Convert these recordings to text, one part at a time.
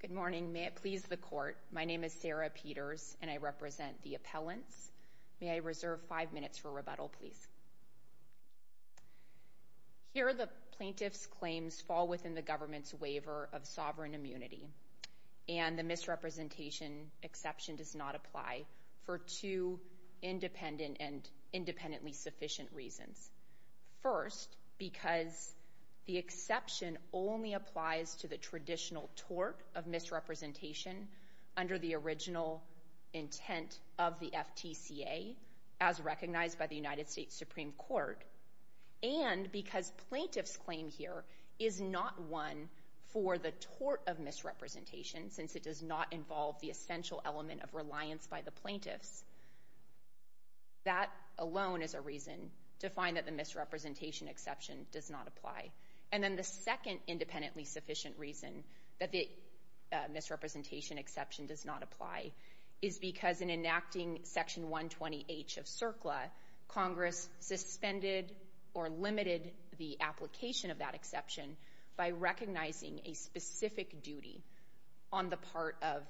Good morning. May it please the court, my name is Sarah Peters and I represent the appellants. May I reserve five minutes for rebuttal, please? Here the plaintiff's claims fall within the government's waiver of sovereign immunity and the misrepresentation exception does not apply for two independent and independently sufficient reasons. First, because the exception only applies to the traditional tort of misrepresentation under the original intent of the FTCA as recognized by the United States Supreme Court and because plaintiff's claim here is not one for the tort of misrepresentation since it does not involve the essential element of reliance by the plaintiffs. That alone is a reason to find that the misrepresentation exception does not apply. And then the second independently sufficient reason that the misrepresentation exception does not apply is because in enacting section 120H of CERCLA, Congress suspended or limited the application of that exception by recognizing a specific duty on the part of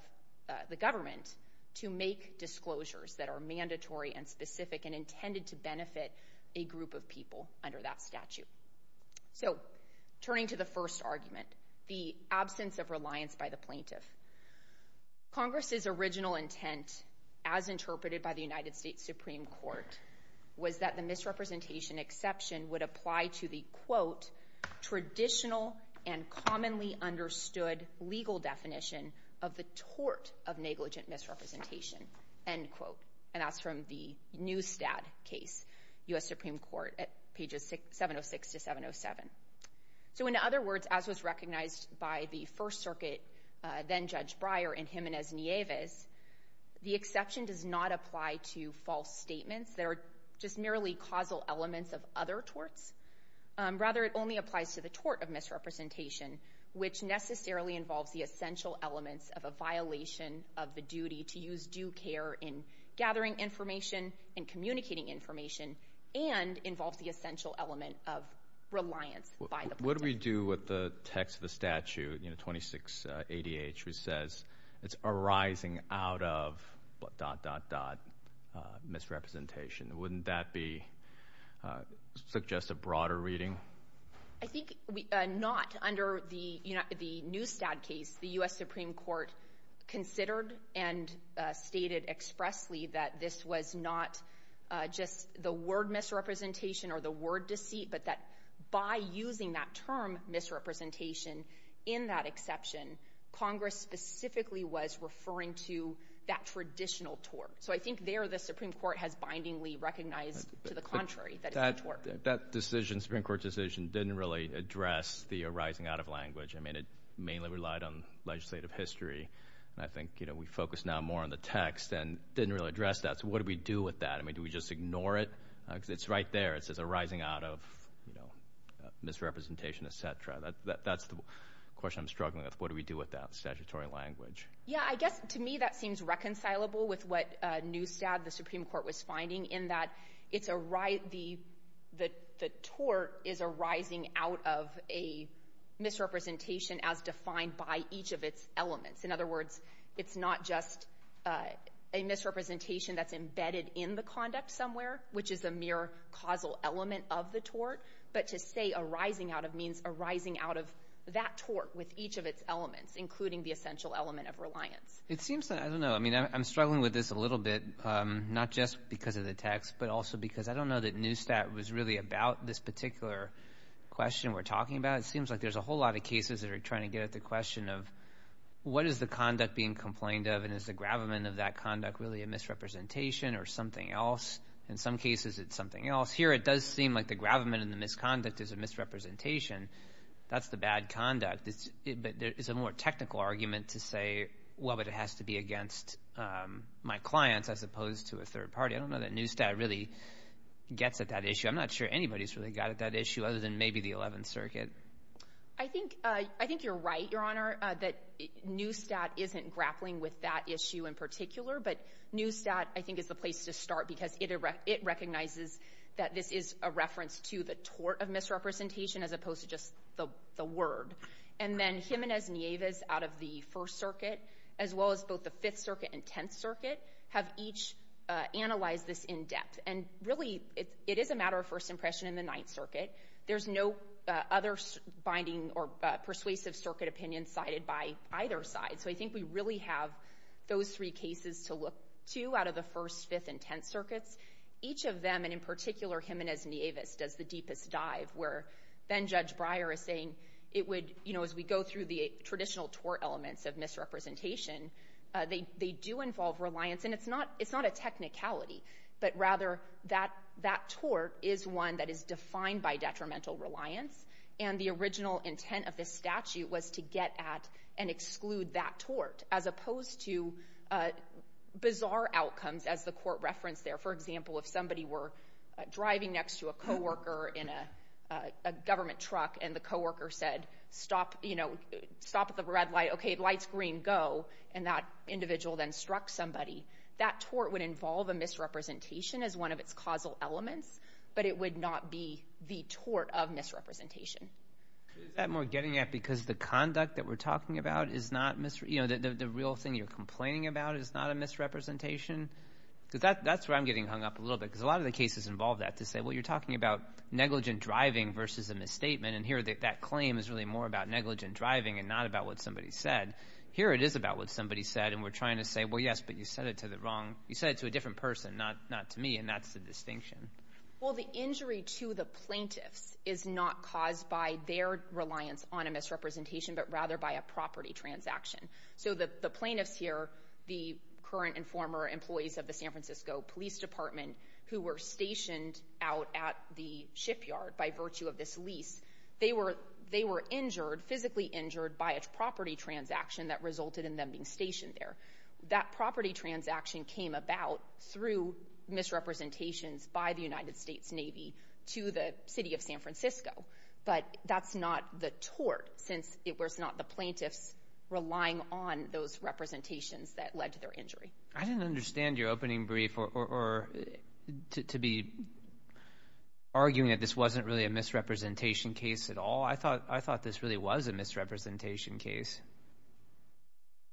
the government to make disclosures that are mandatory and specific and intended to the statute. So, turning to the first argument, the absence of reliance by the plaintiff. Congress's original intent, as interpreted by the United States Supreme Court, was that the misrepresentation exception would apply to the, quote, traditional and commonly understood legal definition of the tort of negligent misrepresentation, end quote. And that's from the Neustadt case, U.S. Supreme Court, at pages 706 to 707. So, in other words, as was recognized by the First Circuit, then Judge Breyer and Jimenez Nieves, the exception does not apply to false statements that are just merely causal elements of other torts. Rather, it only applies to the tort of misrepresentation, which necessarily involves the essential elements of a violation of the duty to use due care in gathering information and communicating information and involves the essential element of reliance by the plaintiff. What do we do with the text of the statute, 26ADH, which says it's arising out of dot, dot, dot, misrepresentation? Wouldn't that be, suggest a broader reading? I think not. Under the Neustadt case, the U.S. Supreme Court considered and stated expressly that this was not just the word misrepresentation or the word deceit, but that by using that term misrepresentation in that exception, Congress specifically was referring to that traditional tort. So I think there the Supreme Court has bindingly recognized to the contrary that it's a tort. That decision, Supreme Court decision, didn't really address the arising out of language. I mean, it mainly relied on legislative history. I think, you know, we focus now more on the text and didn't really address that. So what do we do with that? I mean, do we just ignore it? Because it's right there. It says arising out of, you know, misrepresentation, et cetera. That's the question I'm struggling with. What do we do with that statutory language? Yeah, I guess to me that seems reconcilable with what Neustadt, the Supreme Court, was finding, in that it's a riot the tort is arising out of a misrepresentation as defined by each of its elements. In other words, it's not just a misrepresentation that's embedded in the conduct somewhere, which is a mere causal element of the tort, but to say arising out of means arising out of that tort with each of its elements, including the essential element of reliance. It seems that, I don't know, I mean, I'm struggling with this a little bit, not just because of the text, but also because I don't know that Neustadt was really about this particular question we're talking about. It seems like there's a whole lot of cases that are trying to get at the question of what is the conduct being complained of and is the gravamen of that conduct really a misrepresentation or something else? In some cases, it's something else. Here, it does seem like the gravamen and the misconduct is a misrepresentation. That's the bad conduct, but there is a more technical argument to say, well, but it has to be against my clients as opposed to a third party. I don't know that Neustadt really gets at that issue. I'm not sure anybody's really got at that issue other than maybe the Eleventh Circuit. I think you're right, Your Honor, that Neustadt isn't grappling with that issue in particular, but Neustadt, I think, is the place to start because it recognizes that this is a reference to the tort of misrepresentation as opposed to just the word. And then Jimenez-Nieves out of the First Circuit, as well as both the Fifth Circuit and Tenth Circuit, have each analyzed this in depth. And really, it is a matter of first impression in the Ninth Circuit. There's no other binding or persuasive circuit opinion sided by either side. So I think we really have those three cases to look to out of the First, Fifth, and Tenth as the deepest dive, where then Judge Breyer is saying it would, you know, as we go through the traditional tort elements of misrepresentation, they do involve reliance. And it's not a technicality, but rather that tort is one that is defined by detrimental reliance. And the original intent of this statute was to get at and exclude that tort, as opposed to bizarre outcomes, as the court referenced there. For example, if somebody were driving next to a co-worker in a government truck, and the co-worker said, stop, you know, stop at the red light. Okay, light's green, go. And that individual then struck somebody. That tort would involve a misrepresentation as one of its causal elements, but it would not be the tort of misrepresentation. Is that more getting at because the conduct that we're talking about is not, you know, the real thing you're complaining about is not a misrepresentation? Because that's where I'm getting hung up a little bit, because a lot of the cases involve that, to say, well, you're talking about negligent driving versus a misstatement, and here that claim is really more about negligent driving and not about what somebody said. Here it is about what somebody said, and we're trying to say, well, yes, but you said it to the wrong, you said it to a different person, not to me, and that's the distinction. Well, the injury to the plaintiffs is not caused by their reliance on a misrepresentation, but rather by a property transaction. So the plaintiffs here, the current and former employees of the San Francisco Police Department, who were stationed out at the shipyard by virtue of this lease, they were injured, physically injured, by a property transaction that resulted in them being stationed there. That property transaction came about through misrepresentations by the United States Navy to the city of San Francisco, but that's not the tort, since it was not the plaintiffs relying on those representations that led to their injury. I didn't understand your opening brief, or to be arguing that this wasn't really a misrepresentation case at all. I thought this really was a misrepresentation case.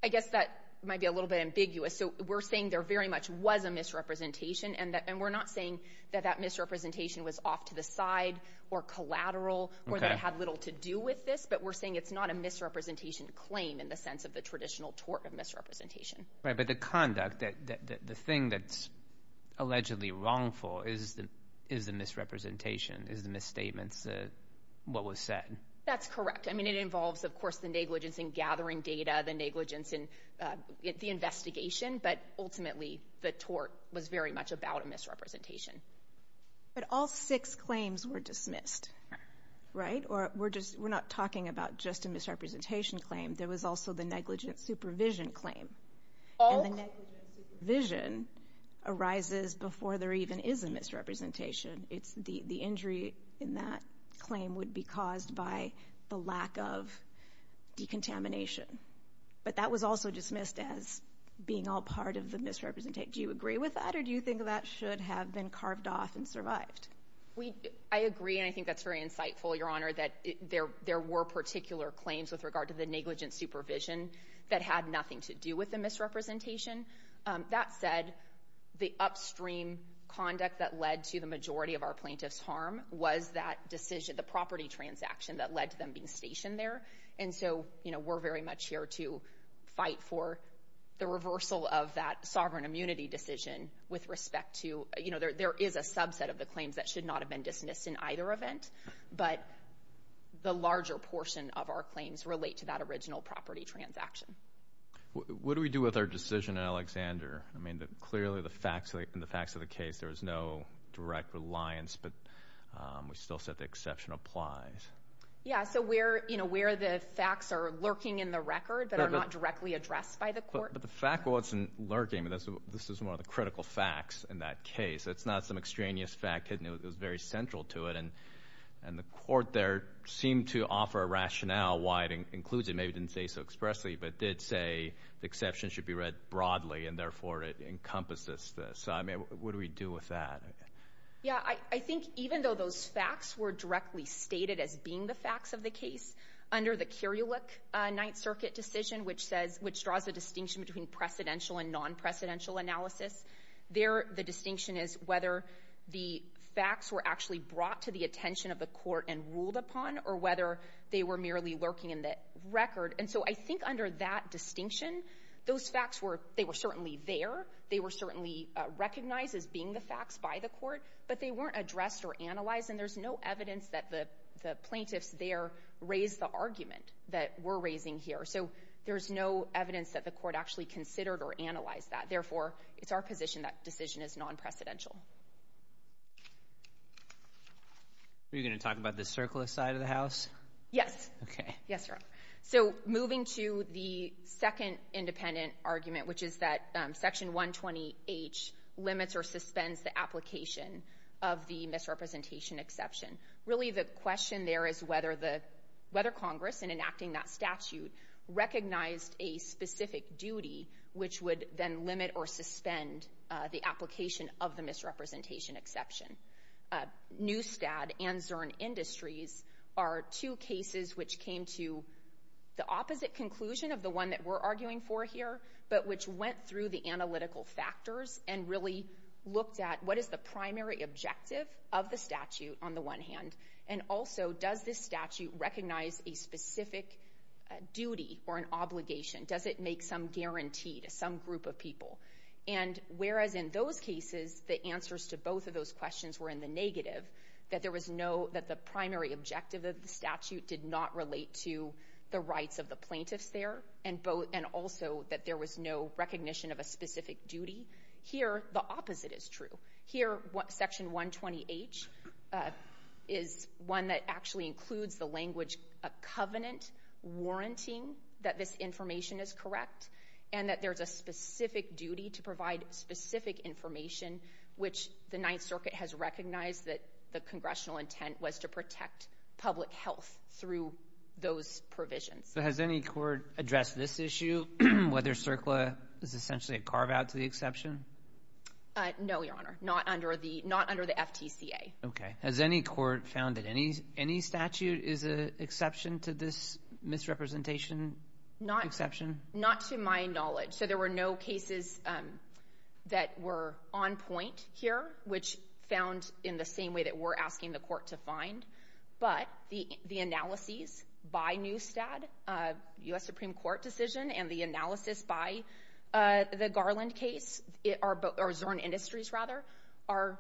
I guess that might be a little bit ambiguous. So we're saying there very much was a misrepresentation, and we're not saying that that misrepresentation was off to the side, or collateral, or that had little to do with this, but we're saying it's not a misrepresentation claim in the sense of the traditional tort of misrepresentation. Right, but the conduct, the thing that's allegedly wrongful is the misrepresentation, is the misstatements, what was said. That's correct. I mean, it involves, of course, the negligence in gathering data, the negligence in the investigation, but ultimately, the tort was very much about a misrepresentation. But all six claims were dismissed, right? Or we're not talking about just a misrepresentation claim. There was also the negligent supervision claim, and the negligent supervision arises before there even is a misrepresentation. The injury in that claim would be caused by the lack of decontamination, but that was also dismissed as being all part of the misrepresentation. Do you agree with that, or do you think that should have been carved off and survived? I agree, and I think that's very insightful, Your Honor, that there were particular claims with regard to the negligent supervision that had nothing to do with the misrepresentation. That said, the upstream conduct that led to the majority of our plaintiff's harm was that decision, the property transaction that led to them being stationed there, and so we're very much here to fight for the reversal of that sovereign immunity decision with respect to, you know, there is a subset of the claims that should not have been dismissed in either event, but the larger portion of our claims relate to that original property transaction. What do we do with our decision in Alexander? I mean, clearly, in the facts of the case, there was no direct reliance, but we still said the exception applies. Yeah, so where, you know, where the facts are lurking in the record that are not directly addressed by the court? But the fact wasn't lurking. This is one of the critical facts in that case. It's not some extraneous fact, and it was very central to it, and the court there seemed to offer a rationale why it includes it. Maybe it didn't say so expressly, but it did say the exception should be read broadly, and therefore, it encompasses this. So, I mean, what do we do with that? Yeah, I think even though those facts were directly stated as being the facts of the case, under the Curulic Ninth Circuit decision, which says — which draws a distinction between precedential and non-precedential analysis, there, the distinction is whether the facts were actually brought to the attention of the court and ruled upon or whether they were merely lurking in the record. And so I think under that distinction, those facts were — they were certainly there. They were certainly recognized as being the facts by the court, but they weren't addressed or analyzed, and there's no evidence that the plaintiffs there raised the argument that we're raising here. So there's no evidence that the court actually considered or analyzed that. Therefore, it's our position that decision is non-precedential. Are you going to talk about the circlist side of the House? Yes. Okay. Yes, Your Honor. So moving to the second independent argument, which is that Section 120H limits or suspends the application of the misrepresentation exception, really the question there is whether the — whether Congress, in enacting that statute, recognized a specific duty which would then limit or suspend the application of the misrepresentation exception. Newstad and Zurn Industries are two cases which came to the opposite conclusion of the one that we're arguing for here, but which went through the analytical factors and really looked at what is the primary objective of the statute on the one hand, and also does this statute recognize a specific duty or an obligation? Does it make some guarantee to some group of people? And whereas in those cases, the answers to both of those questions were in the negative, that there was no — that the primary objective of the statute did not relate to the rights of the plaintiffs there, and also that there was no recognition of a specific duty, here the opposite is true. Here Section 120H is one that actually includes the language, a covenant warranting that this is a specific duty to provide specific information, which the Ninth Circuit has recognized that the congressional intent was to protect public health through those provisions. Has any court addressed this issue, whether CERCLA is essentially a carve-out to the exception? No, Your Honor. Not under the — not under the FTCA. Okay. Has any court found that any statute is an exception to this misrepresentation exception? Not to my knowledge. So there were no cases that were on point here, which found in the same way that we're asking the court to find. But the analyses by Newstad, U.S. Supreme Court decision, and the analysis by the Garland case — or Zorn Industries, rather — are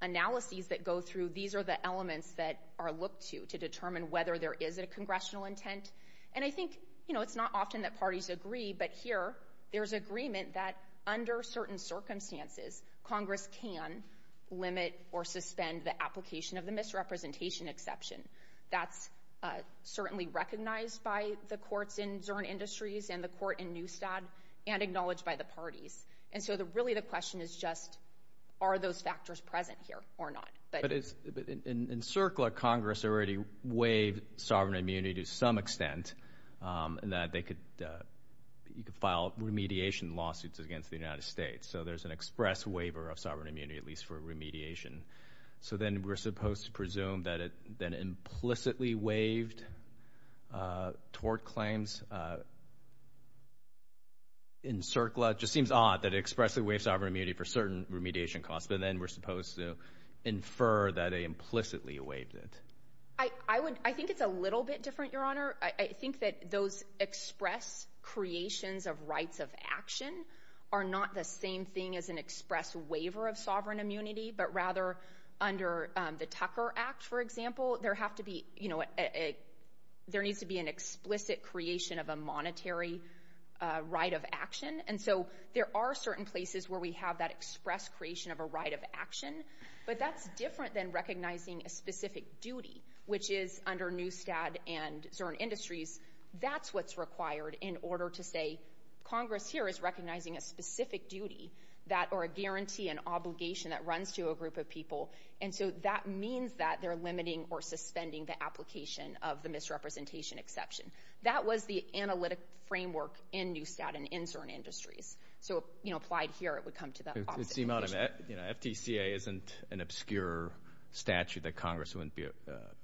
analyses that go through. These are the elements that are looked to to determine whether there is a congressional intent. And I think, you know, it's not often that parties agree, but here there's agreement that under certain circumstances, Congress can limit or suspend the application of the misrepresentation exception. That's certainly recognized by the courts in Zorn Industries and the court in Newstad and acknowledged by the parties. And so really the question is just, are those factors present here or not? But in CERCLA, Congress already waived sovereign immunity to some extent, and that they could — you could file remediation lawsuits against the United States. So there's an express waiver of sovereign immunity, at least for remediation. So then we're supposed to presume that it then implicitly waived tort claims in CERCLA. Just seems odd that it expressly waived sovereign immunity for certain remediation costs, but then we're supposed to infer that they implicitly waived it. I would — I think it's a little bit different, Your Honor. I think that those express creations of rights of action are not the same thing as an express waiver of sovereign immunity, but rather under the Tucker Act, for example, there have to be — you know, there needs to be an explicit creation of a monetary right of action. And so there are certain places where we have that express creation of a right of action, but that's different than recognizing a specific duty, which is under Newstad and Zurn Industries, that's what's required in order to say, Congress here is recognizing a specific duty that — or a guarantee, an obligation that runs to a group of people. And so that means that they're limiting or suspending the application of the misrepresentation exception. That was the analytic framework in Newstad and in Zurn Industries. So if, you know, applied here, it would come to the opposite end of the issue. It seems odd. You know, FTCA isn't an obscure statute that Congress wouldn't be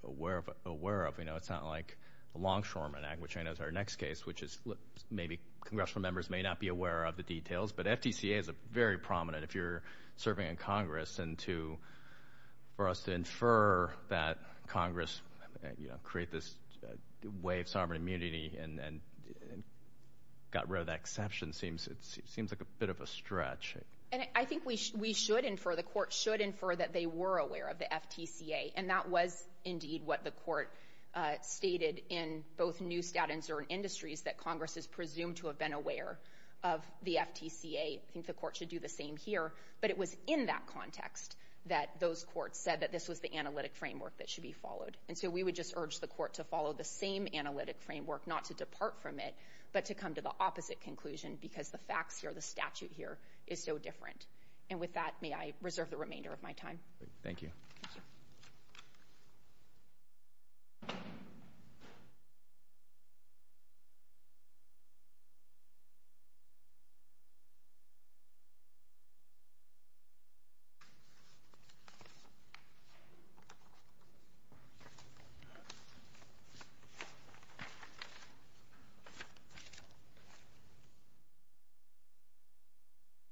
aware of. You know, it's not like the Longshoreman Act, which I know is our next case, which is — maybe congressional members may not be aware of the details, but FTCA is very prominent if you're serving in Congress and to — for us to infer that Congress, you know, create this way of sovereign immunity and got rid of that exception seems like a bit of a stretch. And I think we should infer, the court should infer, that they were aware of the FTCA. And that was indeed what the court stated in both Newstad and Zurn Industries, that Congress is presumed to have been aware of the FTCA. I think the court should do the same here. But it was in that context that those courts said that this was the analytic framework that should be followed. And so we would just urge the court to follow the same analytic framework, not to depart from it, but to come to the opposite conclusion, because the facts here, the statute here, is so different. And with that, may I reserve the remainder of my time? Thank you.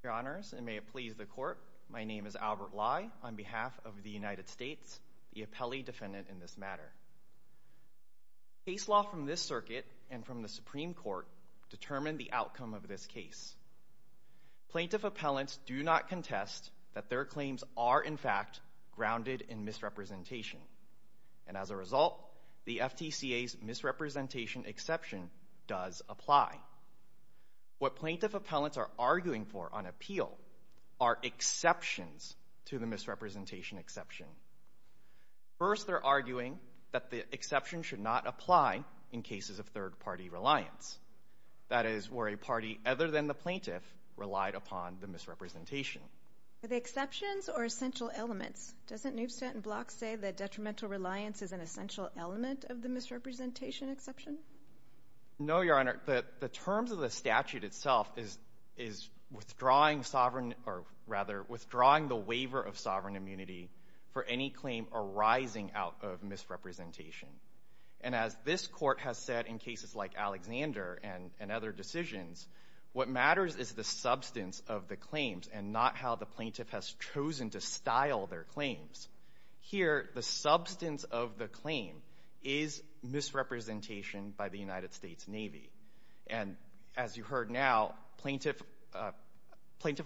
Your Honors, and may it please the court, my name is Albert Lai on behalf of the United States, the appellee defendant in this matter. Case law from this circuit and from the Supreme Court determined the outcome of this case. Plaintiff appellants do not contest that their claims are, in fact, grounded in misrepresentation. And as a result, the FTCA's misrepresentation exception does apply. What plaintiff appellants are arguing for on appeal are exceptions to the misrepresentation exception. First, they're arguing that the exception should not apply in cases of third-party reliance. That is, where a party other than the plaintiff relied upon the misrepresentation. Are they exceptions or essential elements? Doesn't Newstanton Blocks say that detrimental reliance is an essential element of the misrepresentation exception? No, Your Honor. The terms of the statute itself is withdrawing sovereign, or rather, withdrawing the waiver of sovereign immunity for any claim arising out of misrepresentation. And as this Court has said in cases like Alexander and other decisions, what matters is the substance of the claims and not how the plaintiff has chosen to style their claims. Here, the substance of the claim is misrepresentation by the United States Navy. And as you heard now, plaintiff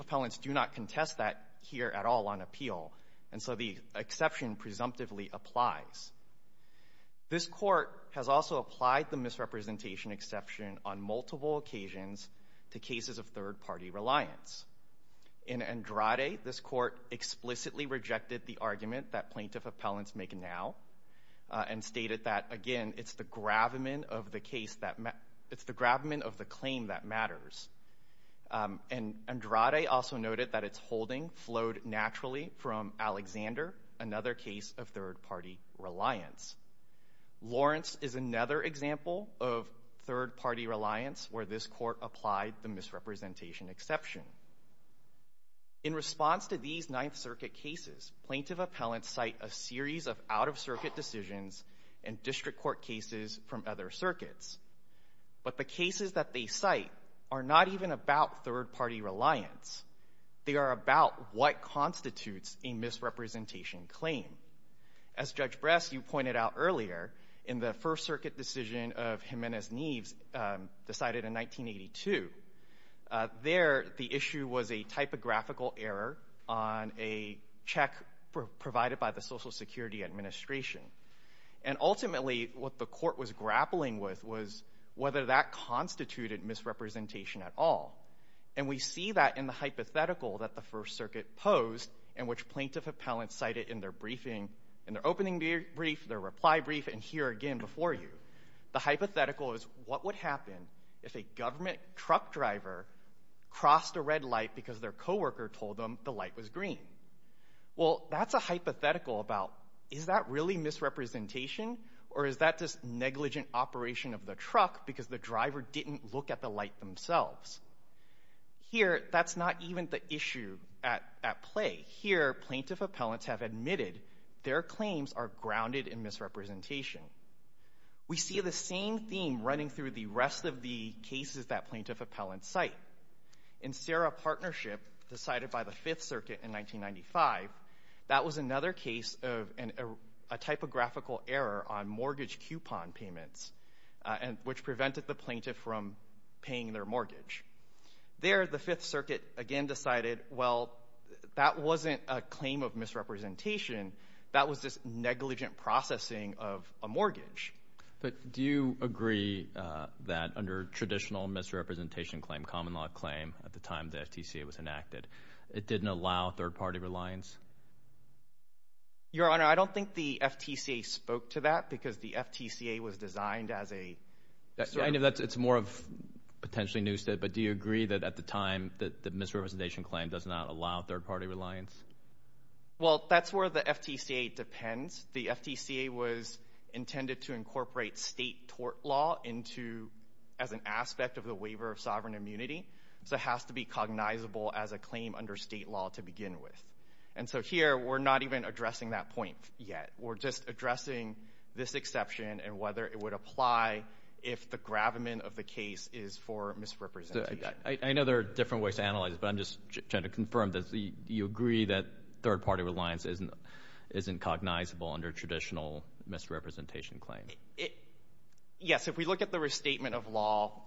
appellants do not contest that here at all on appeal. And so the exception presumptively applies. This Court has also applied the misrepresentation exception on multiple occasions to cases of third-party reliance. In Andrade, this Court explicitly rejected the argument that plaintiff appellants make now and stated that, again, it's the gravamen of the claim that matters. And Andrade also noted that its holding flowed naturally from Alexander, another case of third-party reliance. Lawrence is another example of third-party reliance where this Court applied the misrepresentation exception. In response to these Ninth Circuit cases, plaintiff appellants cite a series of out-of-circuit decisions and district court cases from other circuits. But the cases that they cite are not even about third-party reliance. They are about what constitutes a misrepresentation claim. As Judge Brest, you pointed out earlier, in the First Circuit decision of Jimenez-Nieves decided in 1982, there the issue was a typographical error on a check provided by the Social Security Administration. And ultimately, what the Court was grappling with was whether that constituted misrepresentation at all. And we see that in the hypothetical that the First Circuit posed and which plaintiff appellants cited in their briefing, in their opening brief, their reply brief, and here again before you. The hypothetical is what would happen if a government truck driver crossed a red light because their co-worker told them the light was green? Well, that's a hypothetical about is that really misrepresentation or is that just negligent operation of the truck because the driver didn't look at the light themselves? Here that's not even the issue at play. But here plaintiff appellants have admitted their claims are grounded in misrepresentation. We see the same theme running through the rest of the cases that plaintiff appellants cite. In Serra Partnership decided by the Fifth Circuit in 1995, that was another case of a typographical error on mortgage coupon payments which prevented the plaintiff from paying their mortgage. There, the Fifth Circuit again decided, well, that wasn't a claim of misrepresentation. That was just negligent processing of a mortgage. But do you agree that under traditional misrepresentation claim, common law claim at the time the FTCA was enacted, it didn't allow third party reliance? Your Honor, I don't think the FTCA spoke to that because the FTCA was designed as a It's more of potentially new state, but do you agree that at the time the misrepresentation claim does not allow third party reliance? Well, that's where the FTCA depends. The FTCA was intended to incorporate state tort law into as an aspect of the waiver of sovereign immunity. So it has to be cognizable as a claim under state law to begin with. And so here we're not even addressing that point yet. We're just addressing this exception and whether it would apply if the gravamen of the case is for misrepresentation. I know there are different ways to analyze it, but I'm just trying to confirm, do you agree that third party reliance isn't cognizable under traditional misrepresentation claim? Yes. If we look at the restatement of law,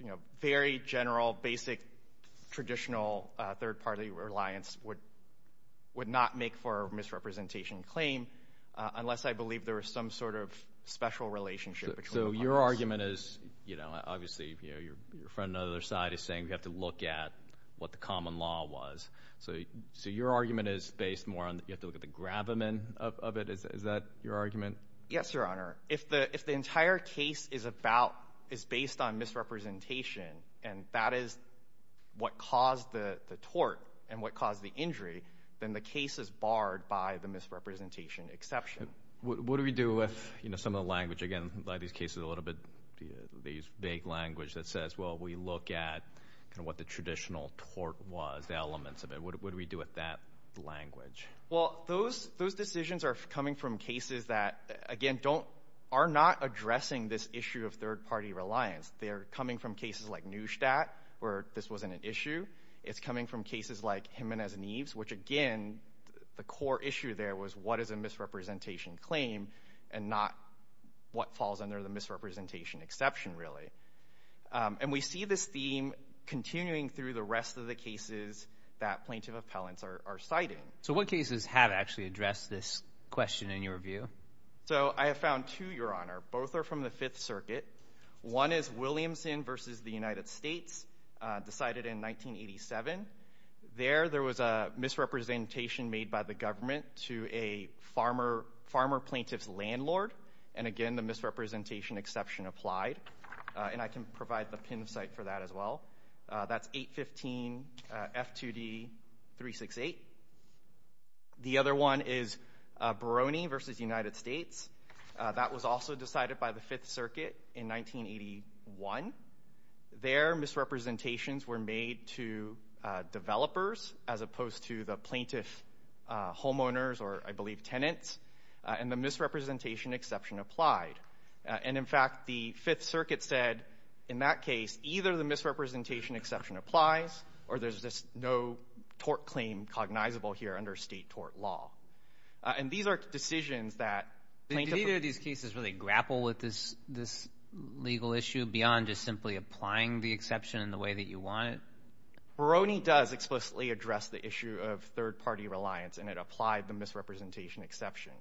you know, very general, basic, traditional third party reliance would not make for misrepresentation claim unless I believe there was some sort of special relationship. So your argument is, you know, obviously, you know, your friend on the other side is saying we have to look at what the common law was. So your argument is based more on you have to look at the gravamen of it. Is that your argument? Yes, Your Honor. If the entire case is based on misrepresentation and that is what caused the tort and what caused the injury, then the case is barred by the misrepresentation exception. What do we do if, you know, some of the language, again, these cases a little bit, these vague language that says, well, we look at kind of what the traditional tort was, the elements of it. What do we do with that language? Well, those decisions are coming from cases that, again, are not addressing this issue of third party reliance. They're coming from cases like Neustadt where this wasn't an issue. It's coming from cases like Jimenez Neves, which again, the core issue there was what is a misrepresentation claim and not what falls under the misrepresentation exception really. And we see this theme continuing through the rest of the cases that plaintiff appellants are citing. So what cases have actually addressed this question in your view? So I have found two, Your Honor. Both are from the Fifth Circuit. One is Williamson versus the United States, decided in 1987. There, there was a misrepresentation made by the government to a farmer plaintiff's landlord and again, the misrepresentation exception applied. And I can provide the pin site for that as well. That's 815 F2D 368. The other one is Barone versus United States. That was also decided by the Fifth Circuit in 1981. There misrepresentations were made to developers as opposed to the plaintiff homeowners or I believe tenants and the misrepresentation exception applied. And in fact, the Fifth Circuit said, in that case, either the misrepresentation exception applies or there's just no tort claim cognizable here under state tort law. And these are decisions that plaintiff... Did either of these cases really grapple with this, this legal issue beyond just simply applying the exception in the way that you want it? Barone does explicitly address the issue of third party reliance and it applied the misrepresentation exception.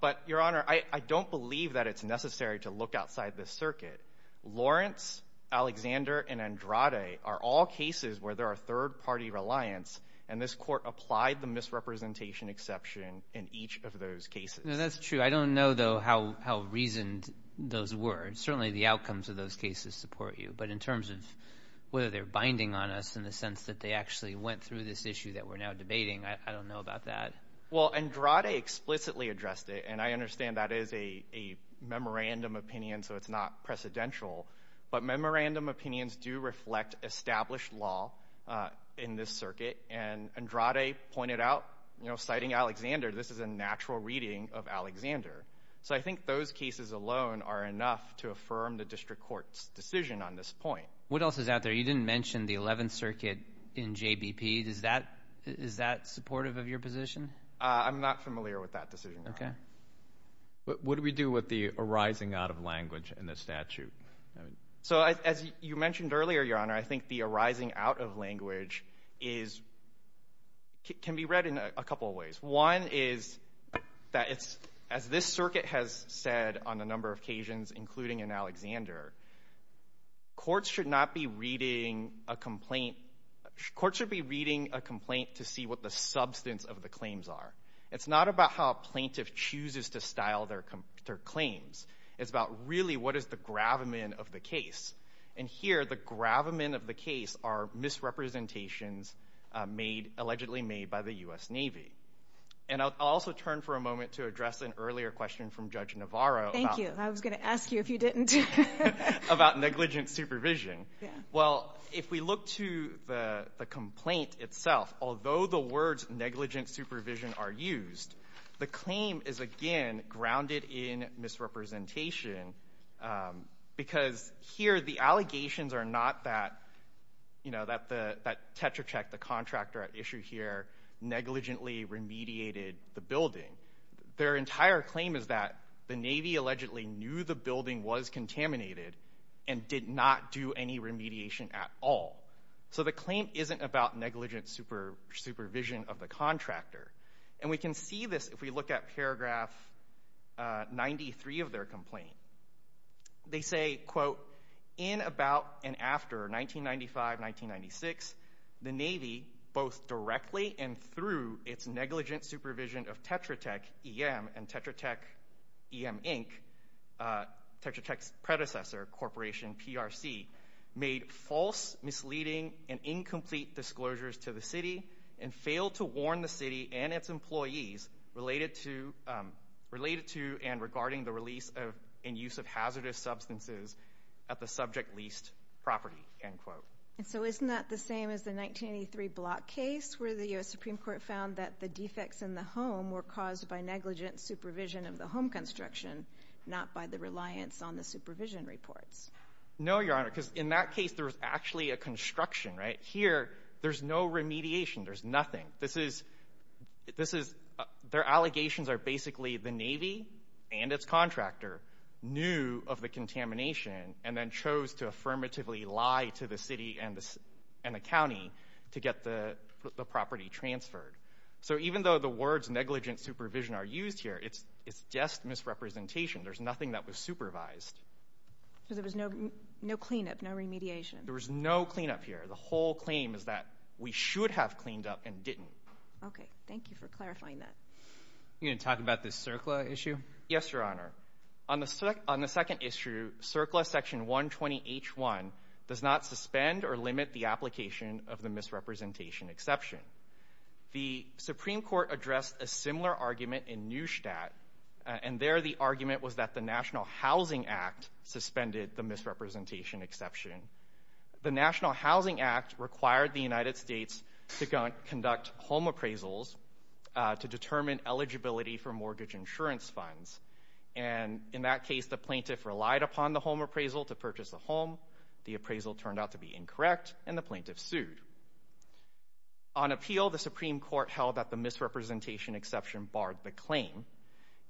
But Your Honor, I don't believe that it's necessary to look outside the circuit. Lawrence, Alexander and Andrade are all cases where there are third party reliance and this court applied the misrepresentation exception in each of those cases. That's true. I don't know, though, how how reasoned those words, certainly the outcomes of those cases support you. But in terms of whether they're binding on us in the sense that they actually went through this issue that we're now debating, I don't know about that. Well, Andrade explicitly addressed it, and I understand that is a a memorandum opinion, so it's not precedential. But memorandum opinions do reflect established law in this circuit. And Andrade pointed out, citing Alexander, this is a natural reading of Alexander. So I think those cases alone are enough to affirm the district court's decision on this point. What else is out there? You didn't mention the 11th Circuit in J.B.P. Does that is that supportive of your position? I'm not familiar with that decision. OK, but what do we do with the arising out of language in the statute? So, as you mentioned earlier, Your Honor, I think the arising out of language is can be read in a couple of ways. One is that it's as this circuit has said on a number of occasions, including in Alexander, courts should not be reading a complaint. Courts should be reading a complaint to see what the substance of the claims are. It's not about how a plaintiff chooses to style their claims. It's about really what is the gravamen of the case. And here, the gravamen of the case are misrepresentations made, allegedly made by the U.S. Navy. And I'll also turn for a moment to address an earlier question from Judge Navarro. Thank you. I was going to ask you if you didn't. About negligent supervision. Well, if we look to the complaint itself, although the words negligent supervision are used, the claim is, again, grounded in misrepresentation because here the allegations are not that, you know, that the that Tetracheck, the contractor at issue here, negligently remediated the building. Their entire claim is that the Navy allegedly knew the building was contaminated and did not do any remediation at all. So the claim isn't about negligent supervision of the contractor. And we can see this if we look at paragraph 93 of their complaint. They say, quote, in about and after 1995-1996, the Navy, both directly and through its negligent supervision of Tetracheck EM and Tetracheck EM Inc., Tetracheck's predecessor corporation, PRC, made false, misleading and incomplete disclosures to the city and failed to warn the city and its employees related to related to and regarding the release of and use of hazardous substances at the subject leased property, end quote. And so isn't that the same as the 1983 block case where the U.S. Supreme Court found that the defects in the home were caused by negligent supervision of the home construction, not by the reliance on the supervision reports? No, Your Honor, because in that case, there was actually a construction right here. There's no remediation. There's nothing. This is this is their allegations are basically the Navy and its contractor knew of the contamination and then chose to affirmatively lie to the city and the county to get the property transferred. So even though the words negligent supervision are used here, it's it's just misrepresentation. There's nothing that was supervised. So there was no no cleanup, no remediation. There was no cleanup here. The whole claim is that we should have cleaned up and didn't. OK, thank you for clarifying that. You can talk about this CERCLA issue. Yes, Your Honor. On the on the second issue, CERCLA section 120 H1 does not suspend or limit the application of the misrepresentation exception. The Supreme Court addressed a similar argument in Neustadt, and there the argument was that the National Housing Act suspended the misrepresentation exception. The National Housing Act required the United States to conduct home appraisals to determine eligibility for mortgage insurance funds. And in that case, the plaintiff relied upon the home appraisal to purchase the home. The appraisal turned out to be incorrect and the plaintiff sued. On appeal, the Supreme Court held that the misrepresentation exception barred the claim.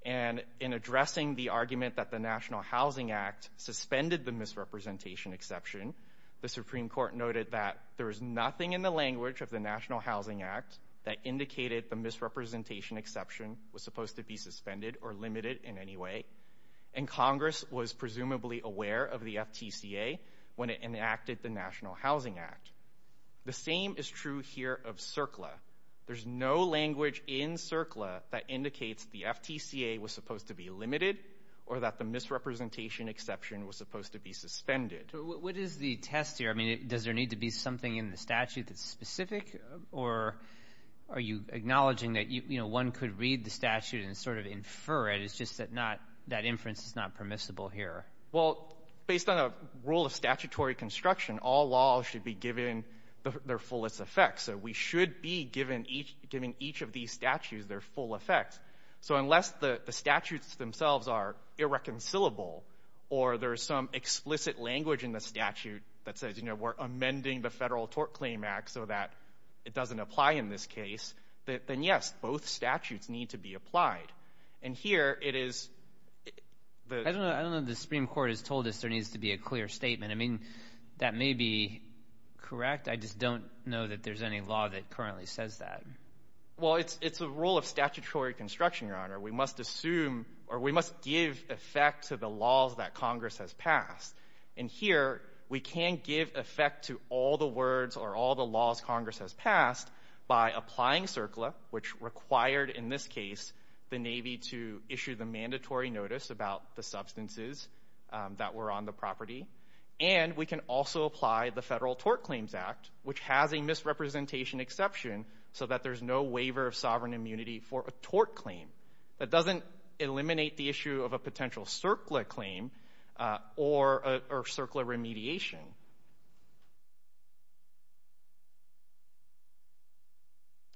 And in addressing the argument that the National Housing Act suspended the misrepresentation exception, the Supreme Court noted that there is nothing in the language of the National Housing Act that indicated the misrepresentation exception was supposed to be suspended or limited in any way. And Congress was presumably aware of the FTCA when it enacted the National Housing Act. The same is true here of CERCLA. There's no language in CERCLA that indicates the FTCA was supposed to be limited or that the misrepresentation exception was supposed to be suspended. What is the test here? I mean, does there need to be something in the statute that's specific? Or are you acknowledging that, you know, one could read the statute and sort of infer it? It's just that not that inference is not permissible here. Well, based on a rule of statutory construction, all laws should be given their fullest effect. So we should be given each giving each of these statutes their full effect. So unless the statutes themselves are irreconcilable or there is some explicit language in the statute that says, you know, we're amending the Federal Tort Claim Act so that it doesn't apply in this case, then yes, both statutes need to be applied. And here it is. I don't know. I don't know. The Supreme Court has told us there needs to be a clear statement. I mean, that may be correct. I just don't know that there's any law that currently says that. Well, it's a rule of statutory construction, Your Honor. We must assume or we must give effect to the laws that Congress has passed. And here we can give effect to all the words or all the laws Congress has passed by applying CERCLA, which required in this case the Navy to issue the mandatory notice about the substances that were on the property. And we can also apply the Federal Tort Claims Act, which has a misrepresentation exception so that there's no waiver of sovereign immunity for a tort claim. That doesn't eliminate the issue of a potential CERCLA claim or CERCLA remediation.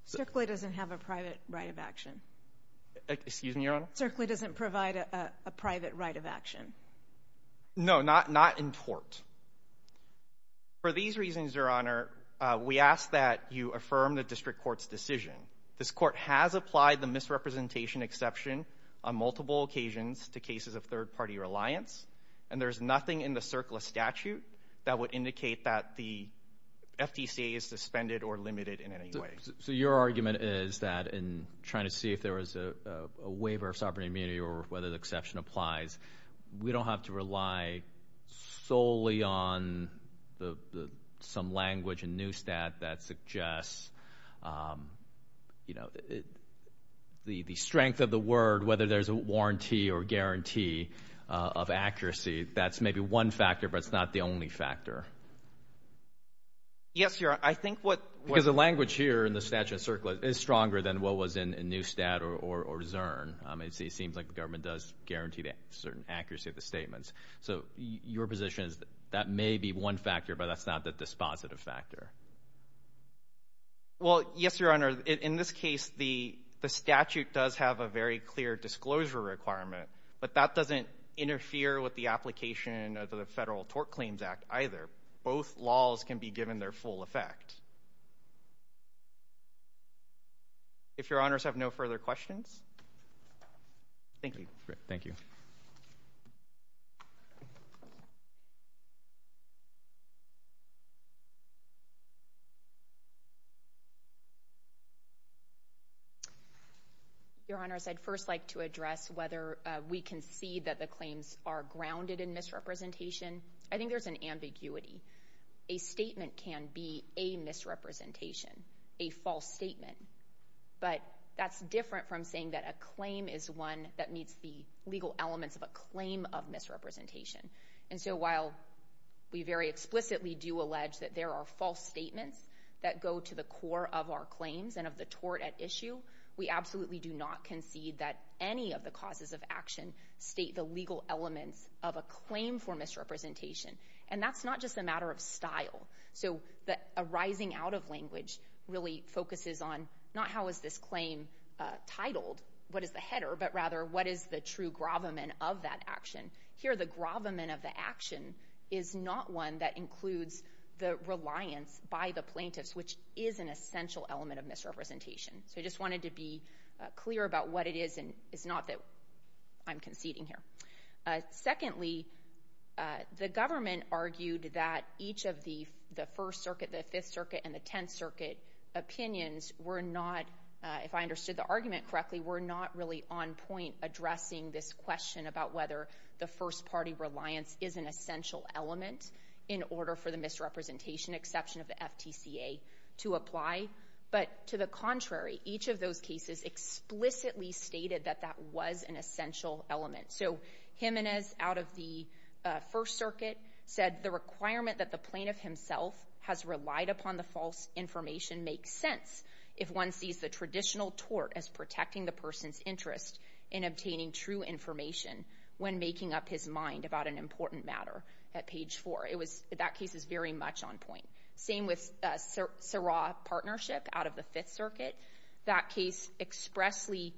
CERCLA doesn't have a private right of action. Excuse me, Your Honor. CERCLA doesn't provide a private right of action. No, not in tort. For these reasons, Your Honor, we ask that you affirm the district court's decision. This court has applied the misrepresentation exception on multiple occasions to cases of third party reliance. And there's nothing in the CERCLA statute that would indicate that the FDCA is suspended or limited in any way. So your argument is that in trying to see if there was a waiver of sovereign immunity or whether the exception applies, we don't have to rely solely on some language in Newstat that suggests, you know, the strength of the word, whether there's a warranty or guarantee of accuracy. That's maybe one factor, but it's not the only factor. Yes, Your Honor, I think what. Because the language here in the statute CERCLA is stronger than what was in Newstat or Zurn. It seems like the government does guarantee that certain accuracy of the statements. So your position is that may be one factor, but that's not the dispositive factor. Well, yes, Your Honor, in this case, the statute does have a very clear disclosure requirement, but that doesn't interfere with the application of the Federal Tort Claims Act either. Both laws can be given their full effect. If Your Honors have no further questions. Thank you. Thank you. Your Honors, I'd first like to address whether we can see that the claims are grounded in misrepresentation. I think there's an ambiguity. A statement can be a misrepresentation, a false statement. But that's different from saying that a claim is one that meets the legal elements of a claim of misrepresentation. And so while we very explicitly do allege that there are false statements that go to the core of our claims and of the tort at issue, we absolutely do not concede that any of the causes of action state the legal elements of a claim for misrepresentation. And that's not just a matter of style. So the arising out of language really focuses on not how is this claim titled, what is the header, but rather what is the true gravamen of that action. Here, the gravamen of the action is not one that includes the reliance by the plaintiffs, which is an essential element of misrepresentation. So I just wanted to be clear about what it is and it's not that I'm conceding here. Secondly, the government argued that each of the First Circuit, the Fifth Circuit and the Tenth Circuit opinions were not, if I understood the argument correctly, were not really on point addressing this question about whether the first party reliance is an essential element in order for the misrepresentation exception of the FTCA to apply. But to the contrary, each of those cases explicitly stated that that was an essential element. So Jimenez, out of the First Circuit, said the requirement that the plaintiff himself has relied upon the false information makes sense if one sees the traditional tort as protecting the person's interest in obtaining true information when making up his mind about an important matter. At page four, it was that case is very much on point. Same with Sarawak Partnership out of the Fifth Circuit. That case expressly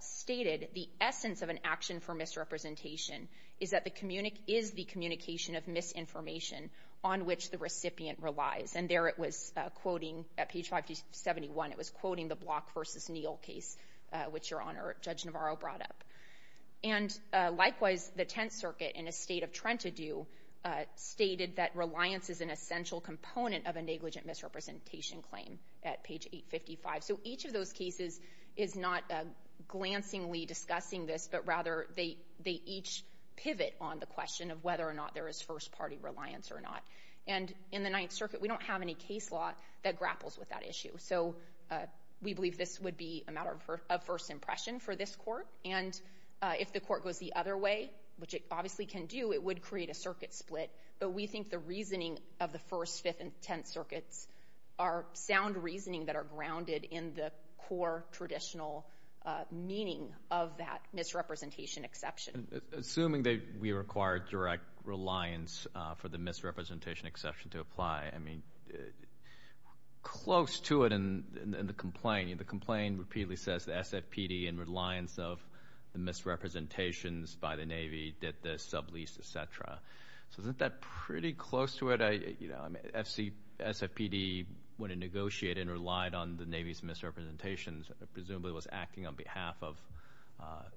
stated the essence of an action for misrepresentation is that the communique is the communication of misinformation on which the recipient relies. And there it was quoting, at page 571, it was quoting the Block v. Neal case, which Your Honor, Judge Navarro brought up. And likewise, the Tenth Circuit, in a state of trend to do, stated that reliance is an essential component of a negligent misrepresentation claim at page 855. So each of those cases is not glancingly discussing this, but rather they each pivot on the question of whether or not there is first party reliance or not. And in the Ninth Circuit, we don't have any case law that grapples with that issue. So we believe this would be a matter of first impression for this court. And if the court goes the other way, which it obviously can do, it would create a circuit split. But we think the reasoning of the First, Fifth, and Tenth Circuits are sound reasoning that are grounded in the core traditional meaning of that misrepresentation exception. Assuming that we require direct reliance for the misrepresentation exception to apply, I mean, close to it in the complaint, the complaint repeatedly says the SFPD, in reliance of the misrepresentations by the Navy, did this, subleased, et cetera. So isn't that pretty close to it? I mean, SFPD, when it negotiated and relied on the Navy's misrepresentations, presumably was acting on behalf of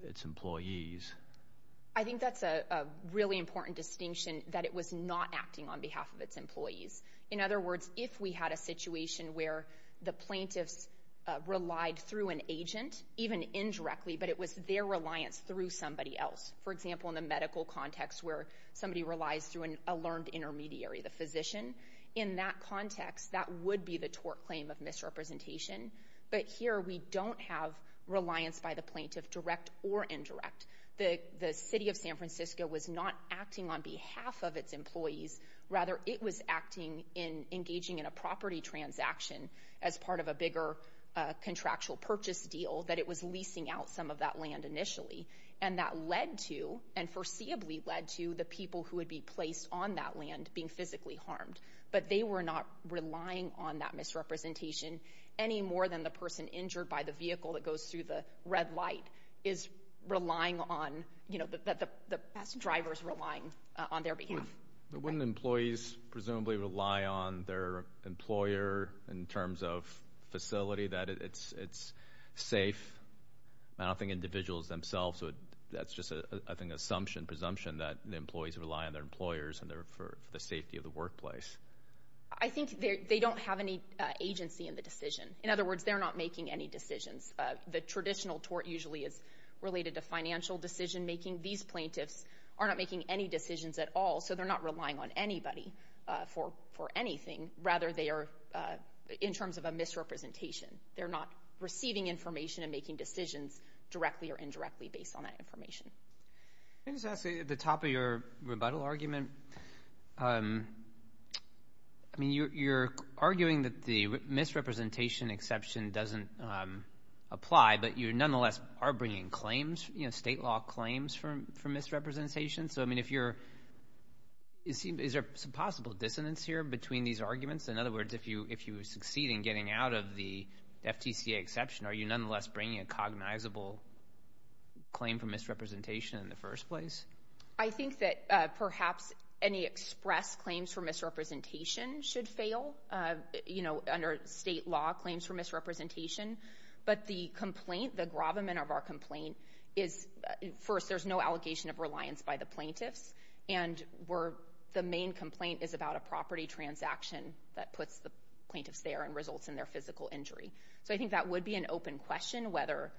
its employees. I think that's a really important distinction, that it was not acting on behalf of its employees. In other words, if we had a situation where the plaintiffs relied through an agent, even indirectly, but it was their reliance through somebody else. For example, in the medical context where somebody relies through a learned intermediary, the physician, in that context, that would be the tort claim of misrepresentation. But here, we don't have reliance by the plaintiff, direct or indirect. The city of San Francisco was not acting on behalf of its employees. Rather, it was acting in engaging in a property transaction as part of a bigger contractual purchase deal, that it was leasing out some of that land initially. And that led to, and foreseeably led to, the people who would be placed on that land being physically harmed. But they were not relying on that misrepresentation any more than the person injured by the vehicle that goes through the red light is relying on, you know, the best drivers relying on their behalf. But wouldn't employees presumably rely on their employer in terms of facility, that it's safe? I don't think individuals themselves would, that's just, I think, assumption, presumption that the employees rely on their employers and their, for the safety of the workplace. I think they don't have any agency in the decision. In other words, they're not making any decisions. The traditional tort usually is related to financial decision making. These plaintiffs are not making any decisions at all, so they're not relying on anybody for anything. Rather, they are, in terms of a misrepresentation, they're not receiving information and making decisions directly or indirectly based on that information. Let me just ask, at the top of your rebuttal argument, I mean, you're arguing that the misrepresentation exception doesn't apply, but you nonetheless are bringing claims, you know, state law claims for misrepresentation. So, I mean, if you're, is there some possible dissonance here between these arguments? In other words, if you succeed in getting out of the FTCA exception, are you nonetheless bringing a cognizable claim for misrepresentation in the first place? I think that perhaps any express claims for misrepresentation should fail, you know, under state law claims for misrepresentation. But the complaint, the gravamen of our complaint is, first, there's no allegation of reliance by the plaintiffs. And we're, the main complaint is about a property transaction that puts the plaintiffs there and results in their physical injury. So, I think that would be an open question, whether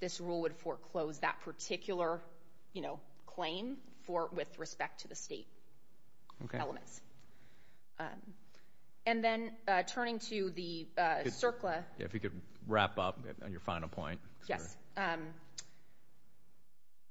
this rule would foreclose that particular, you know, claim for, with respect to the state And then, turning to the CERCLA. Yeah, if you could wrap up on your final point. Yes.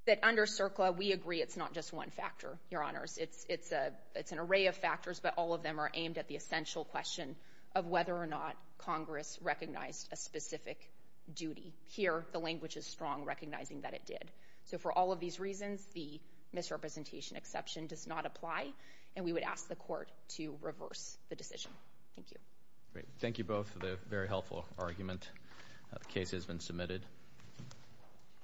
That under CERCLA, we agree it's not just one factor, Your Honors. It's, it's a, it's an array of factors, but all of them are aimed at the essential question of whether or not Congress recognized a specific duty. Here, the language is strong, recognizing that it did. So, for all of these reasons, the misrepresentation exception does not apply. And we would ask the court to reverse the decision. Thank you. Great. Thank you both for the very helpful argument. The case has been submitted.